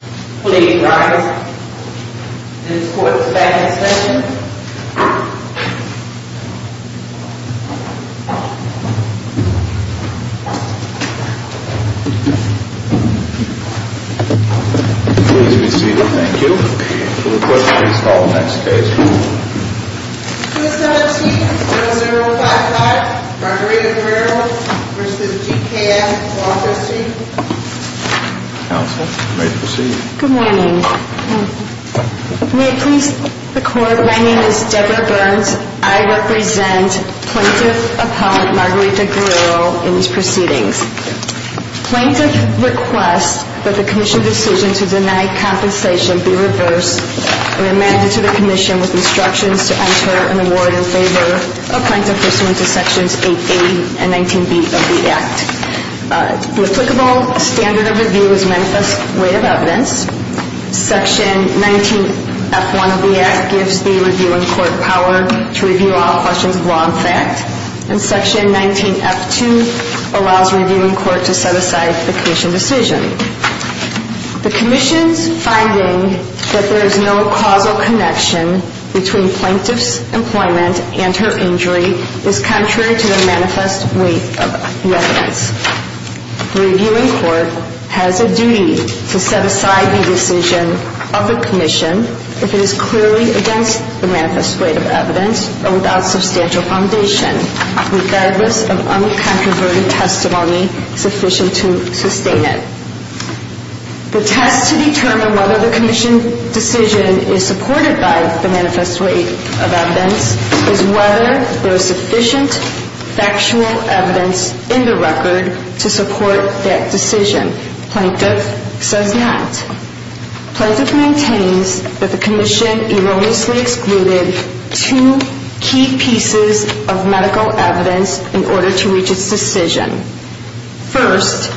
Please rise. This court is now in session. Please be seated. Thank you. We'll request to install the next case. 217-0055. Rodrigo Guerrero v. GKM. Do I have your seat? Counsel, you may proceed. Good morning. May I please, the court, my name is Deborah Burns. I represent Plaintiff Appellant Margarita Guerrero in these proceedings. Plaintiff requests that the commission's decision to deny compensation be reversed and amended to the commission with instructions to enter an award in favor of Plaintiff Pursuant to Sections 8A and 19B of the Act. The applicable standard of review is manifest weight of evidence. Section 19F1 of the Act gives the review in court power to review all questions of law and fact. And Section 19F2 allows review in court to set aside the commission decision. The commission's finding that there is no causal connection between Plaintiff's employment and her injury is contrary to the manifest weight of the evidence. The review in court has a duty to set aside the decision of the commission if it is clearly against the manifest weight of evidence or without substantial foundation, regardless of uncontroverted testimony sufficient to sustain it. The test to determine whether the commission decision is supported by the manifest weight of evidence is whether there is sufficient factual evidence in the record to support that decision. Plaintiff says not. Plaintiff maintains that the commission erroneously excluded two key pieces of medical evidence in order to reach its decision. First,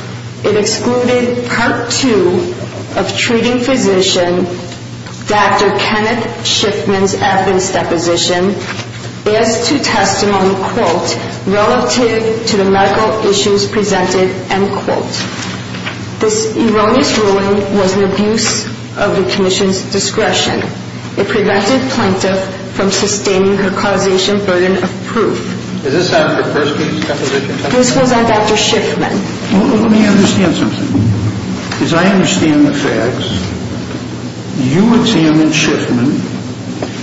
it excluded Part 2 of treating physician Dr. Kenneth Schiffman's evidence deposition as to testimony, quote, relative to the medical issues presented, end quote. This erroneous ruling was an abuse of the commission's discretion. It prevented Plaintiff from sustaining her causation burden of proof. Is this Dr. Persky's deposition? This was on Dr. Schiffman. Well, let me understand something. As I understand the facts, you examined Schiffman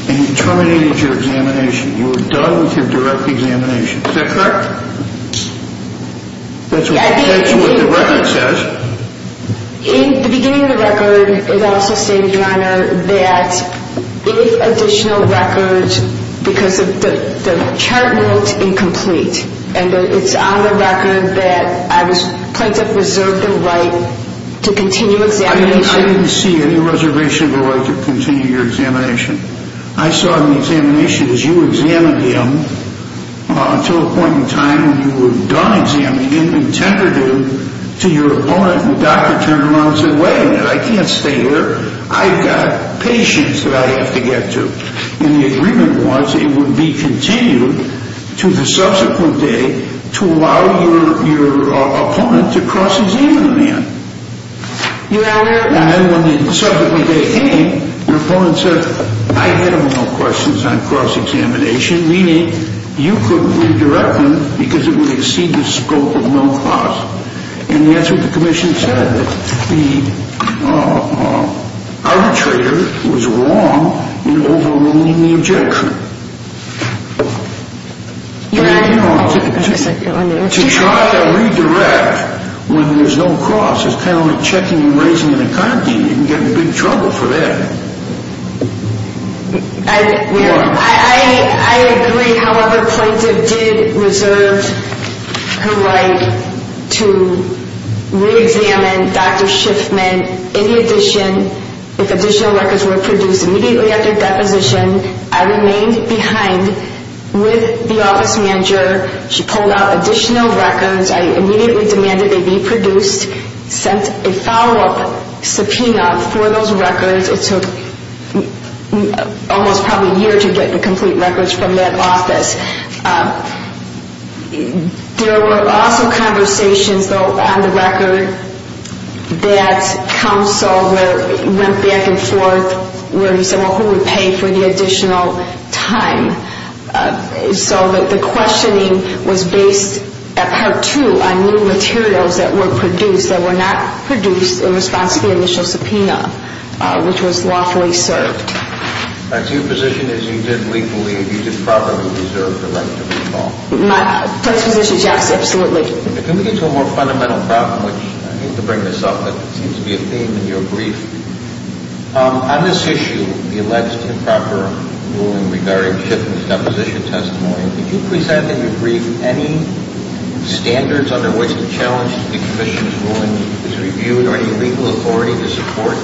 and you terminated your examination. You were done with your direct examination. Is that correct? That's what the record says. In the beginning of the record, it also stated, Your Honor, that if additional records, because the chart was incomplete and it's on the record that Plaintiff reserved the right to continue examination. I didn't see any reservation of the right to continue your examination. I saw the examination as you examined him until a point in time when you were done examining him and tendered him to your opponent and the doctor turned around and said, Wait a minute, I can't stay here. I've got patients that I have to get to. And the agreement was it would be continued to the subsequent day to allow your opponent to cross-examine the man. And then when the subsequent day came, your opponent said, I had no questions on cross-examination, meaning you couldn't redirect him because it would exceed the scope of no cross. And that's what the commission said, that the arbitrator was wrong in overruling the objection. Your Honor, to try to redirect when there's no cross is kind of like checking and raising an account. You can get in big trouble for that. I agree, however, Plaintiff did reserve her right to re-examine Dr. Schiffman. And in addition, if additional records were produced immediately after deposition, I remained behind with the office manager. She pulled out additional records. I immediately demanded they be produced, sent a follow-up subpoena for those records. It took almost probably a year to get the complete records from that office. There were also conversations, though, on the record that counsel went back and forth where he said, well, who would pay for the additional time? So the questioning was based, at part two, on new materials that were produced that were not produced in response to the initial subpoena, which was lawfully served. So your position is you did legally, you did properly reserve the right to recall? My first position is yes, absolutely. If we can get to a more fundamental problem, which I hate to bring this up, but it seems to be a theme in your brief. On this issue, the alleged improper ruling regarding Schiffman's deposition testimony, could you please add to your brief any standards under which the challenge to the commission's ruling is reviewed or any legal authority to support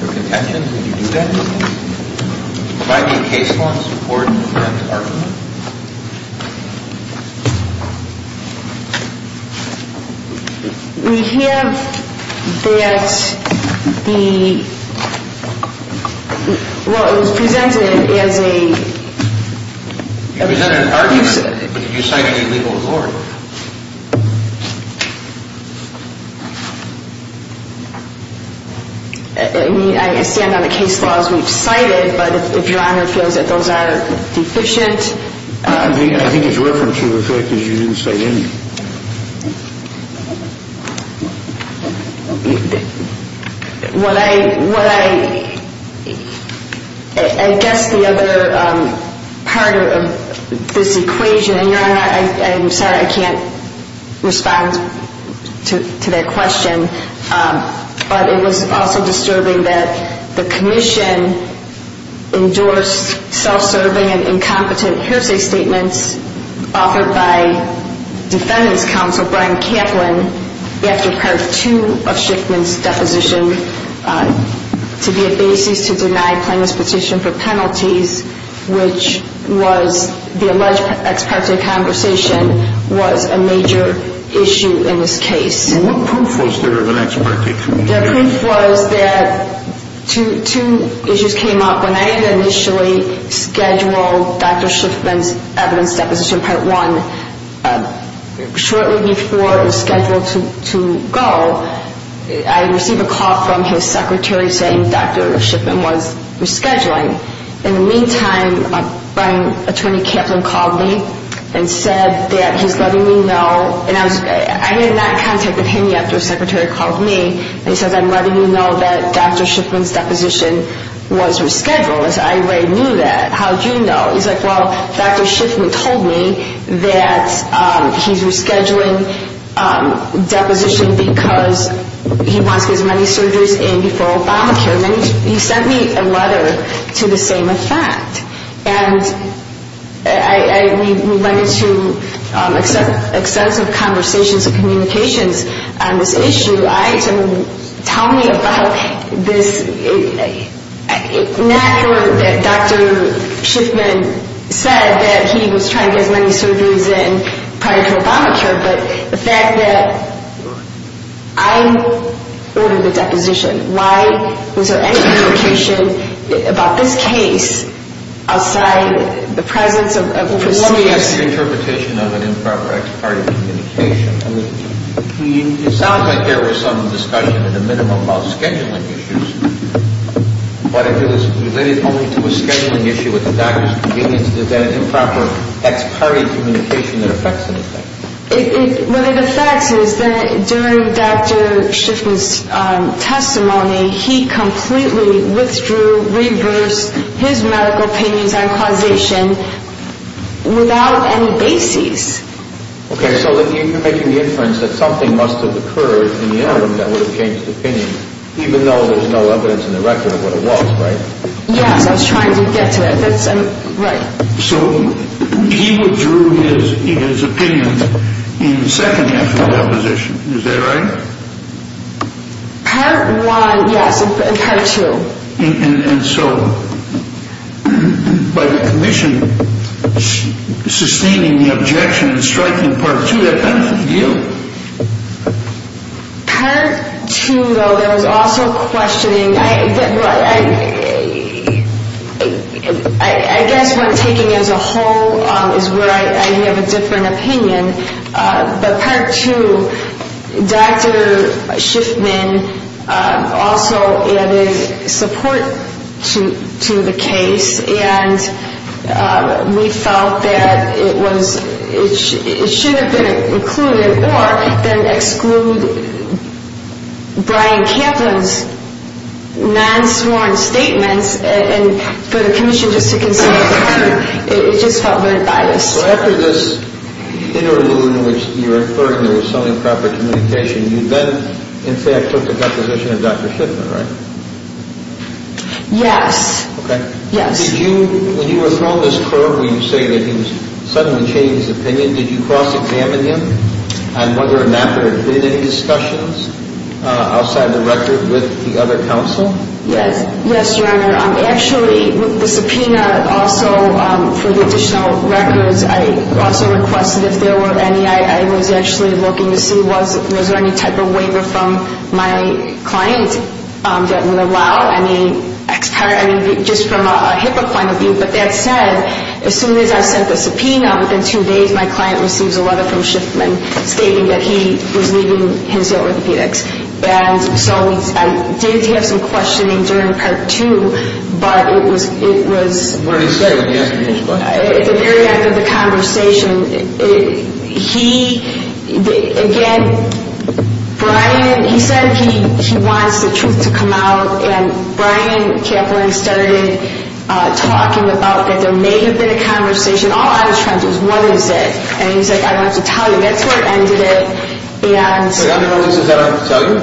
their contentions? Would you do that? Would you provide any case law support and argument? We have that the – well, it was presented as a – You presented an argument, but you cited a legal authority. I mean, I stand on the case laws we've cited, but if your Honor feels that those are deficient. I think it's reference to the fact that you didn't cite any. What I – I guess the other part of this equation – Your Honor, I'm sorry, I can't respond to that question, but it was also disturbing that the commission endorsed self-serving and incompetent hearsay statements offered by Defendant's Counsel Brian Kaplan after Part 2 of Schiffman's deposition to be a basis to deny plaintiff's petition for penalties, which was the alleged ex parte conversation was a major issue in this case. And what proof was there of an ex parte? The proof was that two issues came up. When I initially scheduled Dr. Schiffman's evidence deposition, Part 1, shortly before it was scheduled to go, I received a call from his secretary saying Dr. Schiffman was rescheduling. In the meantime, Attorney Kaplan called me and said that he's letting me know – and I had not contacted him yet after his secretary called me – and he says, I'm letting you know that Dr. Schiffman's deposition was rescheduled. I said, I already knew that. How did you know? He's like, well, Dr. Schiffman told me that he's rescheduling deposition because he wants his money surges in before Obamacare. And then he sent me a letter to the same effect. And we went into extensive conversations and communications on this issue. I had to tell me about this – not that Dr. Schiffman said that he was trying to get his money surges in prior to Obamacare, but the fact that I ordered the deposition. Why was there any communication about this case outside the presence of – Let me ask your interpretation of an improper ex parte communication. I mean, it sounds like there was some discussion at a minimum about scheduling issues, but if it was related only to a scheduling issue at the doctor's convenience, is that an improper ex parte communication that affects anything? What it affects is that during Dr. Schiffman's testimony, he completely withdrew, reversed his medical opinions on causation without any basis. Okay, so you're making the inference that something must have occurred in the interim that would have changed opinions, even though there's no evidence in the record of what it was, right? Yes, I was trying to get to it. So he withdrew his opinions in the second half of the deposition, is that right? Part one, yes, and part two. And so by the commission sustaining the objection and striking part two, that benefits you? Part two, though, there was also questioning. I guess when taking as a whole is where I have a different opinion, but part two, Dr. Schiffman also added support to the case, and we felt that it should have been included, or then exclude Brian Kaplan's non-sworn statements, and for the commission just to consider the term, it just felt very biased. So after this interlude in which you're inferring there was some improper communication, you then in fact took the deposition of Dr. Schiffman, right? Yes. Okay. Did you, when you were thrown this curve where you say that he suddenly changed his opinion, did you cross-examine him? And whether or not there had been any discussions outside the record with the other counsel? Yes, Your Honor. Actually, with the subpoena also for the additional records, I also requested if there were any. I was actually looking to see was there any type of waiver from my client that would allow any just from a HIPAA point of view, but that said, as soon as I sent the subpoena, within two days my client receives a letter from Schiffman stating that he was leaving his orthopedics. And so I did have some questioning during part two, but it was at the very end of the conversation. He, again, Brian, he said he wants the truth to come out, and Brian Kaplan started talking about that there may have been a conversation. All I was trying to do was, what is it? And he said, I don't have to tell you. That's where it ended at. Wait, under no circumstances did I have to tell you?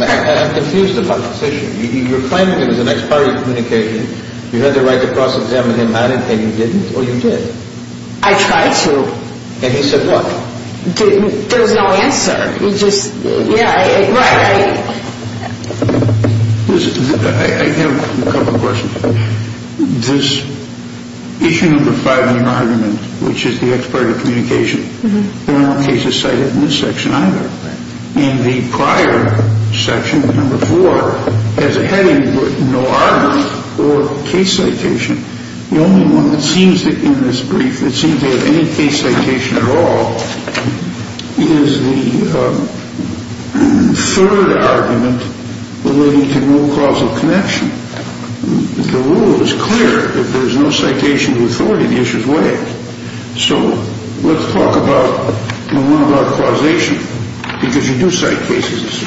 I'm confused about this issue. You're claiming it was an expiry of communication. You had the right to cross-examine him. I didn't think you didn't, or you did. I tried to. And he said what? There was no answer. Yeah, right. I have a couple of questions. This issue number five in your argument, which is the expiry of communication, there are no cases cited in this section either. In the prior section, number four, there's a heading with no argument or case citation. The only one that seems to, in this brief, that seems to have any case citation at all, is the third argument relating to no causal connection. The rule is clear. If there's no citation of authority, the issue is waived. So let's talk about the one about causation, because you do cite cases.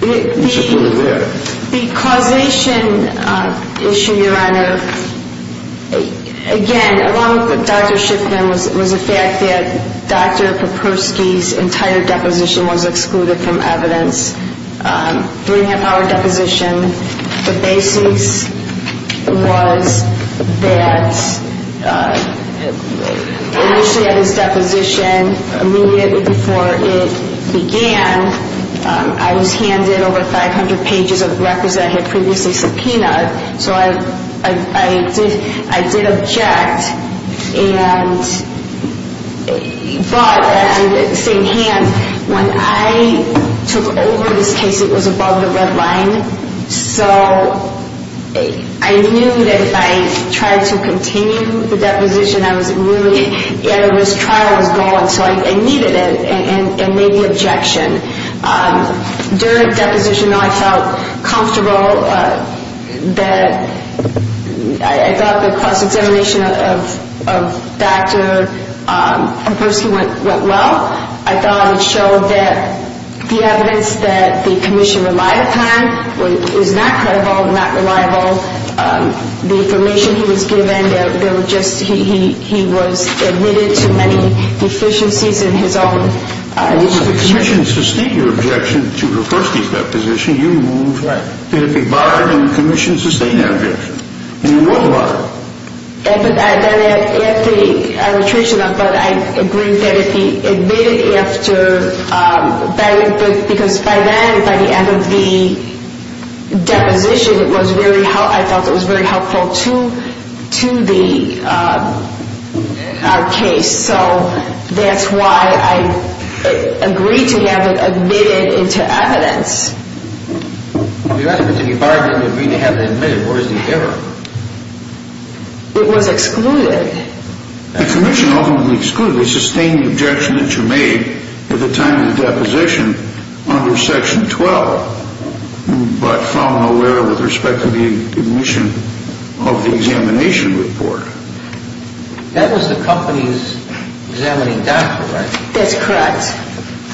The causation issue, Your Honor, again, along with Dr. Shipman, was the fact that Dr. Poperski's entire deposition was excluded from evidence. Three-and-a-half-hour deposition, the basis was that initially at his deposition, immediately before it began, I was handed over 500 pages of records that I had previously subpoenaed. So I did object, but at the same hand, when I took over this case, it was above the red line. So I knew that if I tried to continue the deposition, I was really at a risk. Trial was gone, so I needed an immediate objection. During deposition, I felt comfortable that I thought the cross-examination of Dr. Poperski went well. I thought it showed that the evidence that the commission relied upon was not credible, not reliable. The information he was given, he was admitted to many deficiencies in his own. If the commission sustained your objection to Dr. Poperski's deposition, you moved. Right. Did it bother you that the commission sustained that objection? It was bothering me. I would treat you to that, but I agreed that it be admitted after, because by then, by the end of the deposition, I felt it was very helpful to the case. So that's why I agreed to have it admitted into evidence. If you asked me to be bothered and agree to have it admitted, where is the error? It was excluded. The commission ultimately excluded the sustained objection that you made at the time of the deposition under Section 12, but found no error with respect to the admission of the examination report. That was the company's examining doctor, right? That's correct.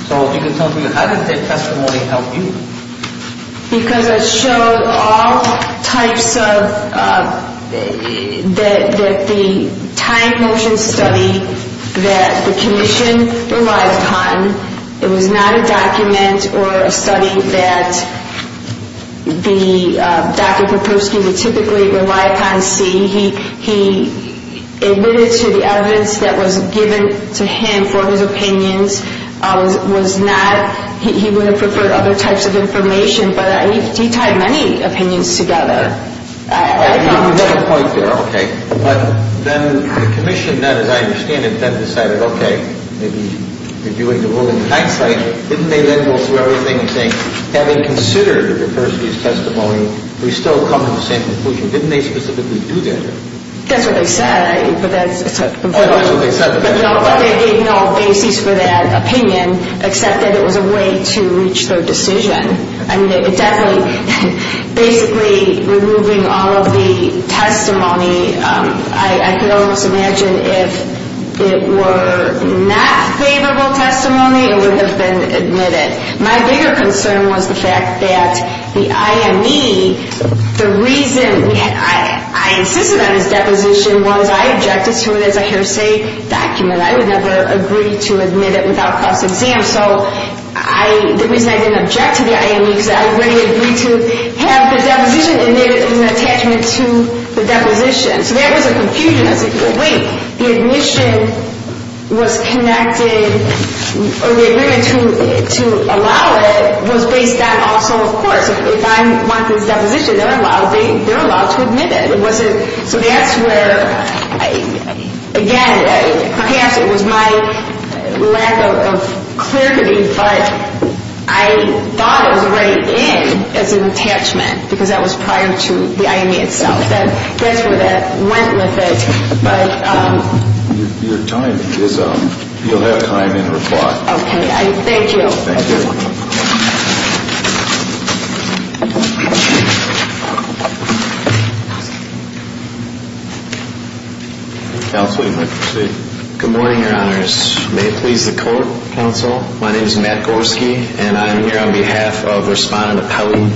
So if you could tell me, how did the testimony help you? Because it showed all types of the timed motion study that the commission relied upon. It was not a document or a study that Dr. Poperski would typically rely upon seeing. He admitted to the evidence that was given to him for his opinions. He would have preferred other types of information, but he tied many opinions together. You made a point there, okay. But then the commission then, as I understand it, then decided, okay, maybe reviewing the ruling. In hindsight, didn't they then go through everything and say, having considered Dr. Poperski's testimony, we still come to the same conclusion? Didn't they specifically do that? That's what they said. Oh, that's what they said. But they gave no basis for that opinion, except that it was a way to reach their decision. I mean, it definitely, basically removing all of the testimony, I can almost imagine if it were not favorable testimony, it would have been admitted. My bigger concern was the fact that the IME, the reason I insisted on his deposition was I objected to it as a hearsay document. I would never agree to admit it without a cross-exam. So the reason I didn't object to the IME is I already agreed to have the deposition, and there was an attachment to the deposition. So that was a confusion. I said, wait, the admission was connected, or the agreement to allow it was based on also, of course, if I want this deposition, they're allowed to admit it. So that's where, again, perhaps it was my lack of clarity, but I thought it was already in as an attachment because that was prior to the IME itself. That's where that went with it. Your time is up. You'll have time in reply. Okay. Thank you. Thank you. Counsel, you may proceed. Good morning, Your Honors. May it please the court, counsel. My name is Matt Gorski, and I'm here on behalf of Respondent Appellee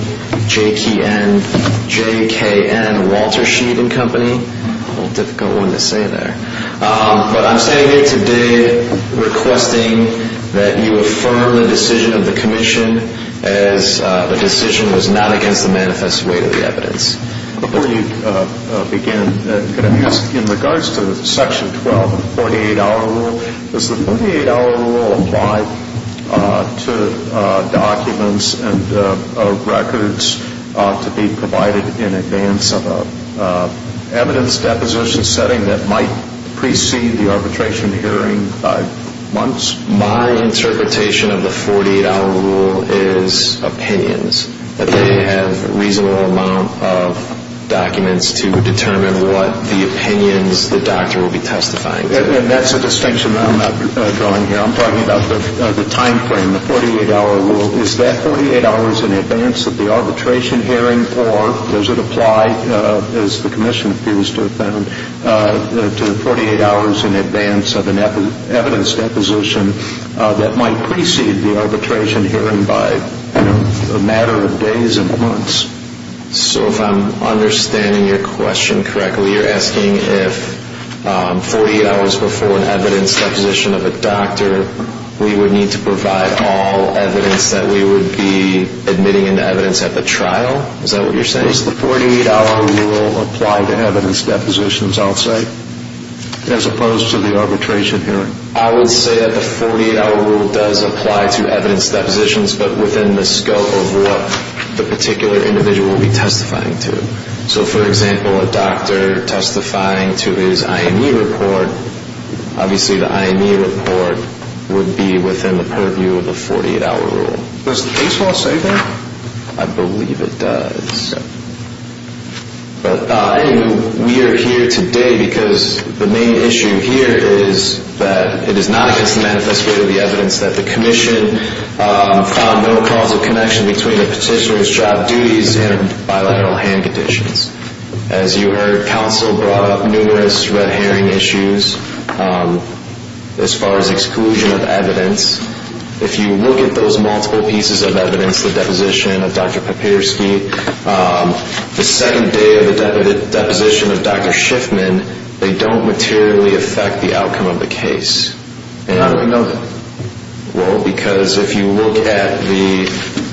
JKN Walter Sheed and Company. A little difficult one to say there. But I'm standing here today requesting that you affirm the decision of the commission as the decision was not against the manifest weight of the evidence. Before you begin, could I ask in regards to Section 12 of the 48-hour rule, does the 48-hour rule apply to documents and of records to be provided in advance of an evidence deposition setting that might precede the arbitration hearing by months? My interpretation of the 48-hour rule is opinions, that they have a reasonable amount of documents to determine what the opinions the doctor will be testifying to. And that's a distinction I'm not drawing here. I'm talking about the timeframe, the 48-hour rule. Is that 48 hours in advance of the arbitration hearing, or does it apply, as the commission appears to have found, to 48 hours in advance of an evidence deposition that might precede the arbitration hearing by a matter of days and months? So if I'm understanding your question correctly, you're asking if 48 hours before an evidence deposition of a doctor, we would need to provide all evidence that we would be admitting into evidence at the trial? Is that what you're saying? Does the 48-hour rule apply to evidence depositions, I'll say, as opposed to the arbitration hearing? I would say that the 48-hour rule does apply to evidence depositions, but within the scope of what the particular individual will be testifying to. So, for example, a doctor testifying to his IME report, obviously the IME report would be within the purview of the 48-hour rule. Does the case law say that? I believe it does. But, anyway, we are here today because the main issue here is that it is not against the manifesto of the evidence that the commission found no causal connection between the petitioner's job duties and bilateral hand conditions. As you heard, counsel brought up numerous red herring issues as far as exclusion of evidence. If you look at those multiple pieces of evidence, the deposition of Dr. Papierski, the second day of the deposition of Dr. Schiffman, they don't materially affect the outcome of the case. How do we know that? Well, because if you look at the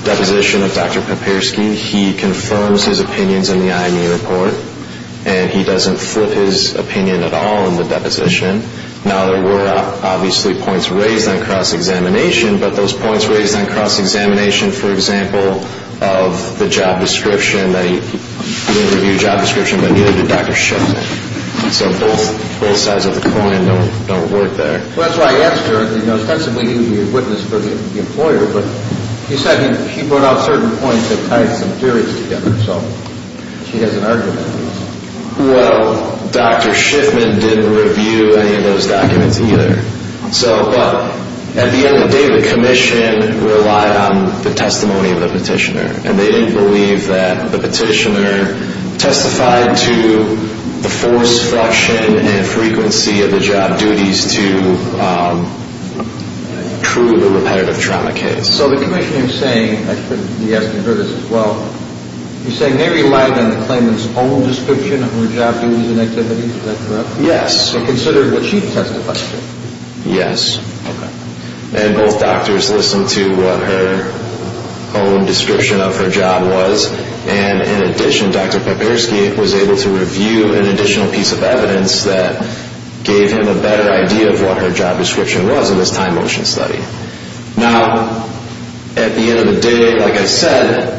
deposition of Dr. Papierski, he confirms his opinions in the IME report, and he doesn't flip his opinion at all in the deposition. Now, there were obviously points raised on cross-examination, but those points raised on cross-examination, for example, of the job description, that he didn't review the job description, but neither did Dr. Schiffman. So both sides of the coin don't work there. Well, that's why I asked her. You know, ostensibly, he would be a witness for the employer, but he said he brought out certain points that tied some theories together. So he has an argument. Well, Dr. Schiffman didn't review any of those documents either. So, well, at the end of the day, the commission relied on the testimony of the petitioner, and they didn't believe that the petitioner testified to the force, fraction, and frequency of the job duties to prove a repetitive trauma case. So the commission is saying, I think you asked me about this as well, you're saying they relied on the claimant's own description of her job duties and activities. Is that correct? Yes. They considered what she testified to. Yes. Okay. And both doctors listened to what her own description of her job was, and in addition, Dr. Popierski was able to review an additional piece of evidence that gave him a better idea of what her job description was in this time motion study. Now, at the end of the day, like I said,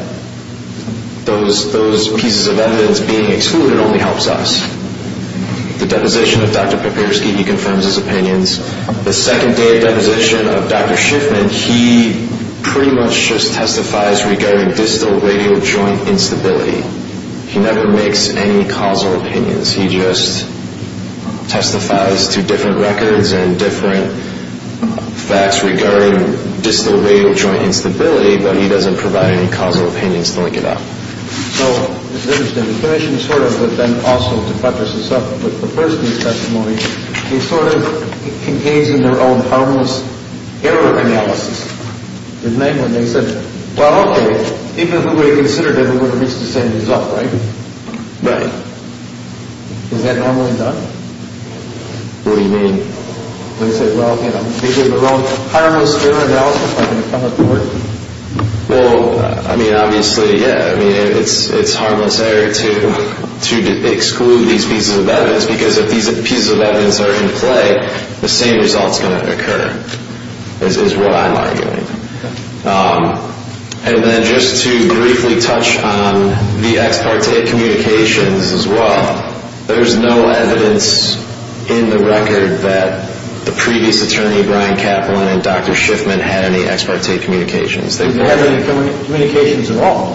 those pieces of evidence being excluded only helps us. The deposition of Dr. Popierski, he confirms his opinions. The second day of deposition of Dr. Schiffman, he pretty much just testifies regarding distal radial joint instability. He never makes any causal opinions. He just testifies to different records and different facts regarding distal radial joint instability, but he doesn't provide any causal opinions to link it up. So, this is interesting. The commission sort of then also, to buttress this up with Popierski's testimony, they sort of engaged in their own harmless error analysis. Namely, they said, well, okay, even if we would have considered it, we would have reached the same result, right? Right. Is that normally done? What do you mean? They said, well, you know, they did their own harmless error analysis, are they coming forward? Well, I mean, obviously, yeah. I mean, it's harmless error to exclude these pieces of evidence because if these pieces of evidence are in play, the same result is going to occur, is what I'm arguing. And then just to briefly touch on the ex parte communications as well, there's no evidence in the record that the previous attorney, Brian Kaplan, and Dr. Schiffman had any ex parte communications. Did they have any communications at all?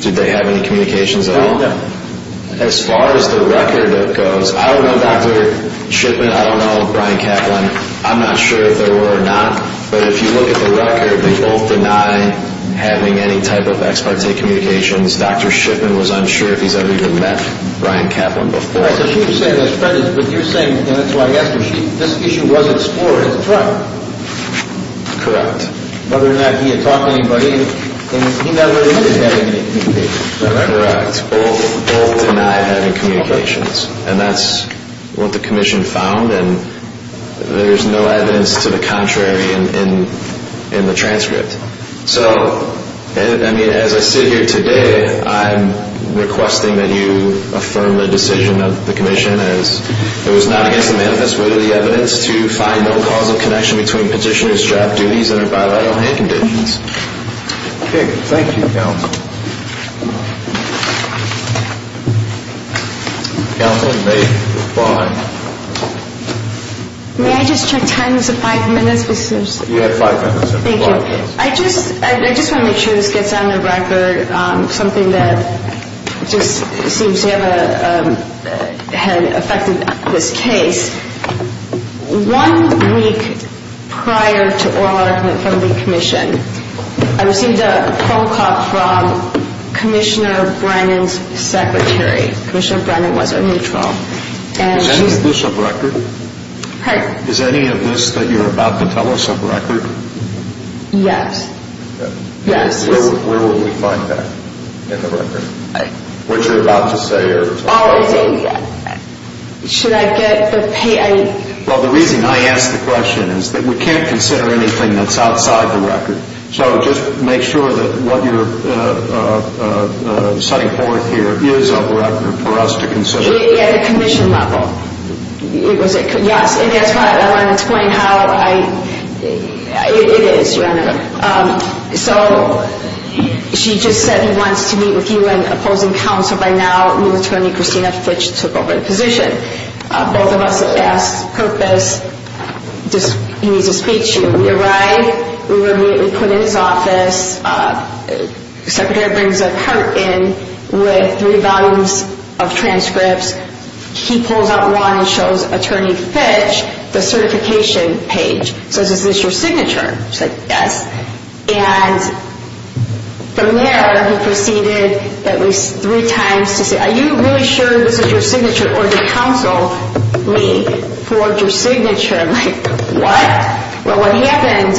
Did they have any communications at all? No. As far as the record goes, I don't know Dr. Schiffman, I don't know Brian Kaplan, I'm not sure if there were or not, but if you look at the record, they both deny having any type of ex parte communications. Dr. Schiffman was unsure if he's ever even met Brian Kaplan before. But you're saying, and that's why I asked you, this issue wasn't scored as a threat. Correct. Whether or not he had talked to anybody, and he never admitted having any communications. Correct. Both deny having communications. And that's what the commission found, and there's no evidence to the contrary in the transcript. So, I mean, as I sit here today, I'm requesting that you affirm the decision of the commission as it was not against the manifest wit of the evidence to find no cause of connection between petitioner's job duties and her bilateral hand conditions. Okay, thank you, counsel. Counsel, may I just check time, is it five minutes? You have five minutes. Thank you. I just want to make sure this gets on the record, something that just seems to have affected this case. One week prior to oral argument from the commission, I received a phone call from Commissioner Brennan's secretary. Commissioner Brennan was a neutral. Is any of this a record? Pardon? Is any of this that you're about to tell us a record? Yes. Okay. Yes. Where will we find that in the record? What you're about to say or talk about? Oh, is it? Should I get the PA? Well, the reason I ask the question is that we can't consider anything that's outside the record. So just make sure that what you're setting forth here is a record for us to consider. At the commission level. Yes, and that's why I want to explain how I – it is, Your Honor. So she just said he wants to meet with you and opposing counsel by now, new attorney Christina Fitch took over the position. Both of us asked purpose, he needs to speak to you. We arrived. We were immediately put in his office. The secretary brings a cart in with three volumes of transcripts. He pulls out one and shows Attorney Fitch the certification page. He says, is this your signature? She's like, yes. And from there, he proceeded at least three times to say, are you really sure this is your signature or did counsel meet for your signature? I'm like, what? Well, what happened,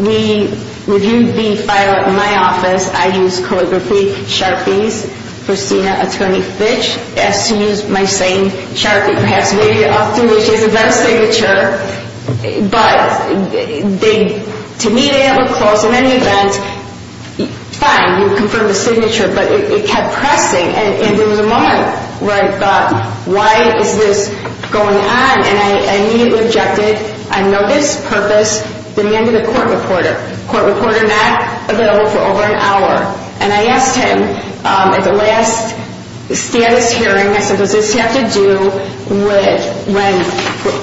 we reviewed the file at my office. I used calligraphy sharpies for Christina Attorney Fitch. As soon as my same sharpie passed through, she has a better signature. But to me, they have a close. In any event, fine, you confirm the signature. But it kept pressing. And there was a moment where I thought, why is this going on? And I immediately objected. I noticed purpose, demanded a court reporter. Court reporter not available for over an hour. And I asked him at the last status hearing, I said, does this have to do with when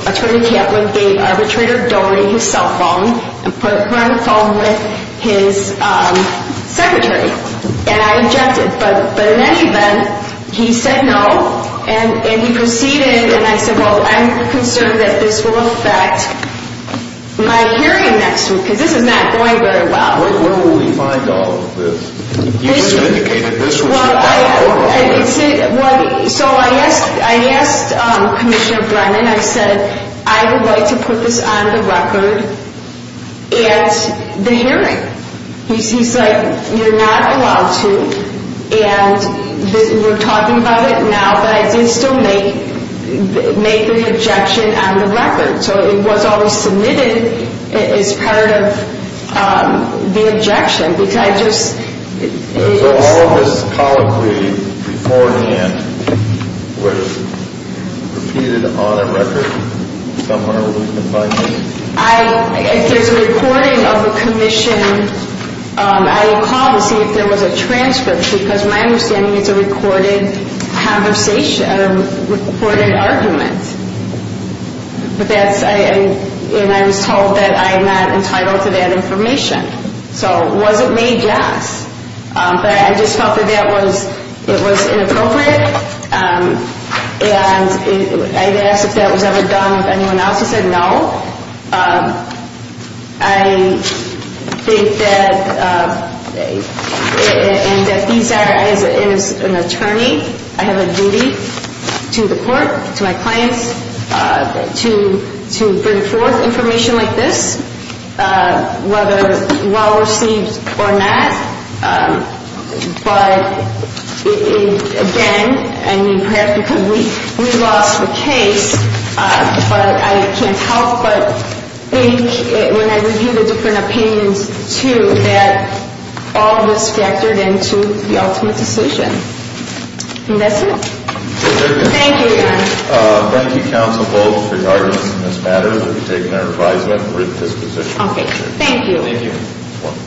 Attorney Kaplan gave Arbitrator Doherty his cell phone and put her on the phone with his secretary? And I objected. But in any event, he said no, and he proceeded. And I said, well, I'm concerned that this will affect my hearing next week because this is not going very well. When will we find all of this? You just indicated this was your last order of business. So I asked Commissioner Brennan, I said, I would like to put this on the record at the hearing. He's like, you're not allowed to. And we're talking about it now, but I did still make an objection on the record. So it was always submitted as part of the objection because I just ‑‑ So all of this colloquy beforehand was repeated on a record somewhere where we can find it? If there's a recording of the commission, I would call to see if there was a transcript. Because my understanding is it's a recorded argument. And I was told that I am not entitled to that information. So was it made just? But I just felt that it was inappropriate. And I asked if that was ever done with anyone else. He said no. I think that these are, as an attorney, I have a duty to the court, to my clients, to bring forth information like this, whether well received or not. But again, I mean, perhaps because we lost the case. But I can't help but think when I review the different opinions, too, that all was factored into the ultimate decision. And that's it. Thank you, Your Honor. Thank you, counsel, both for your arguments in this matter. We've taken our advisement and written this decision. Okay. Thank you. Thank you.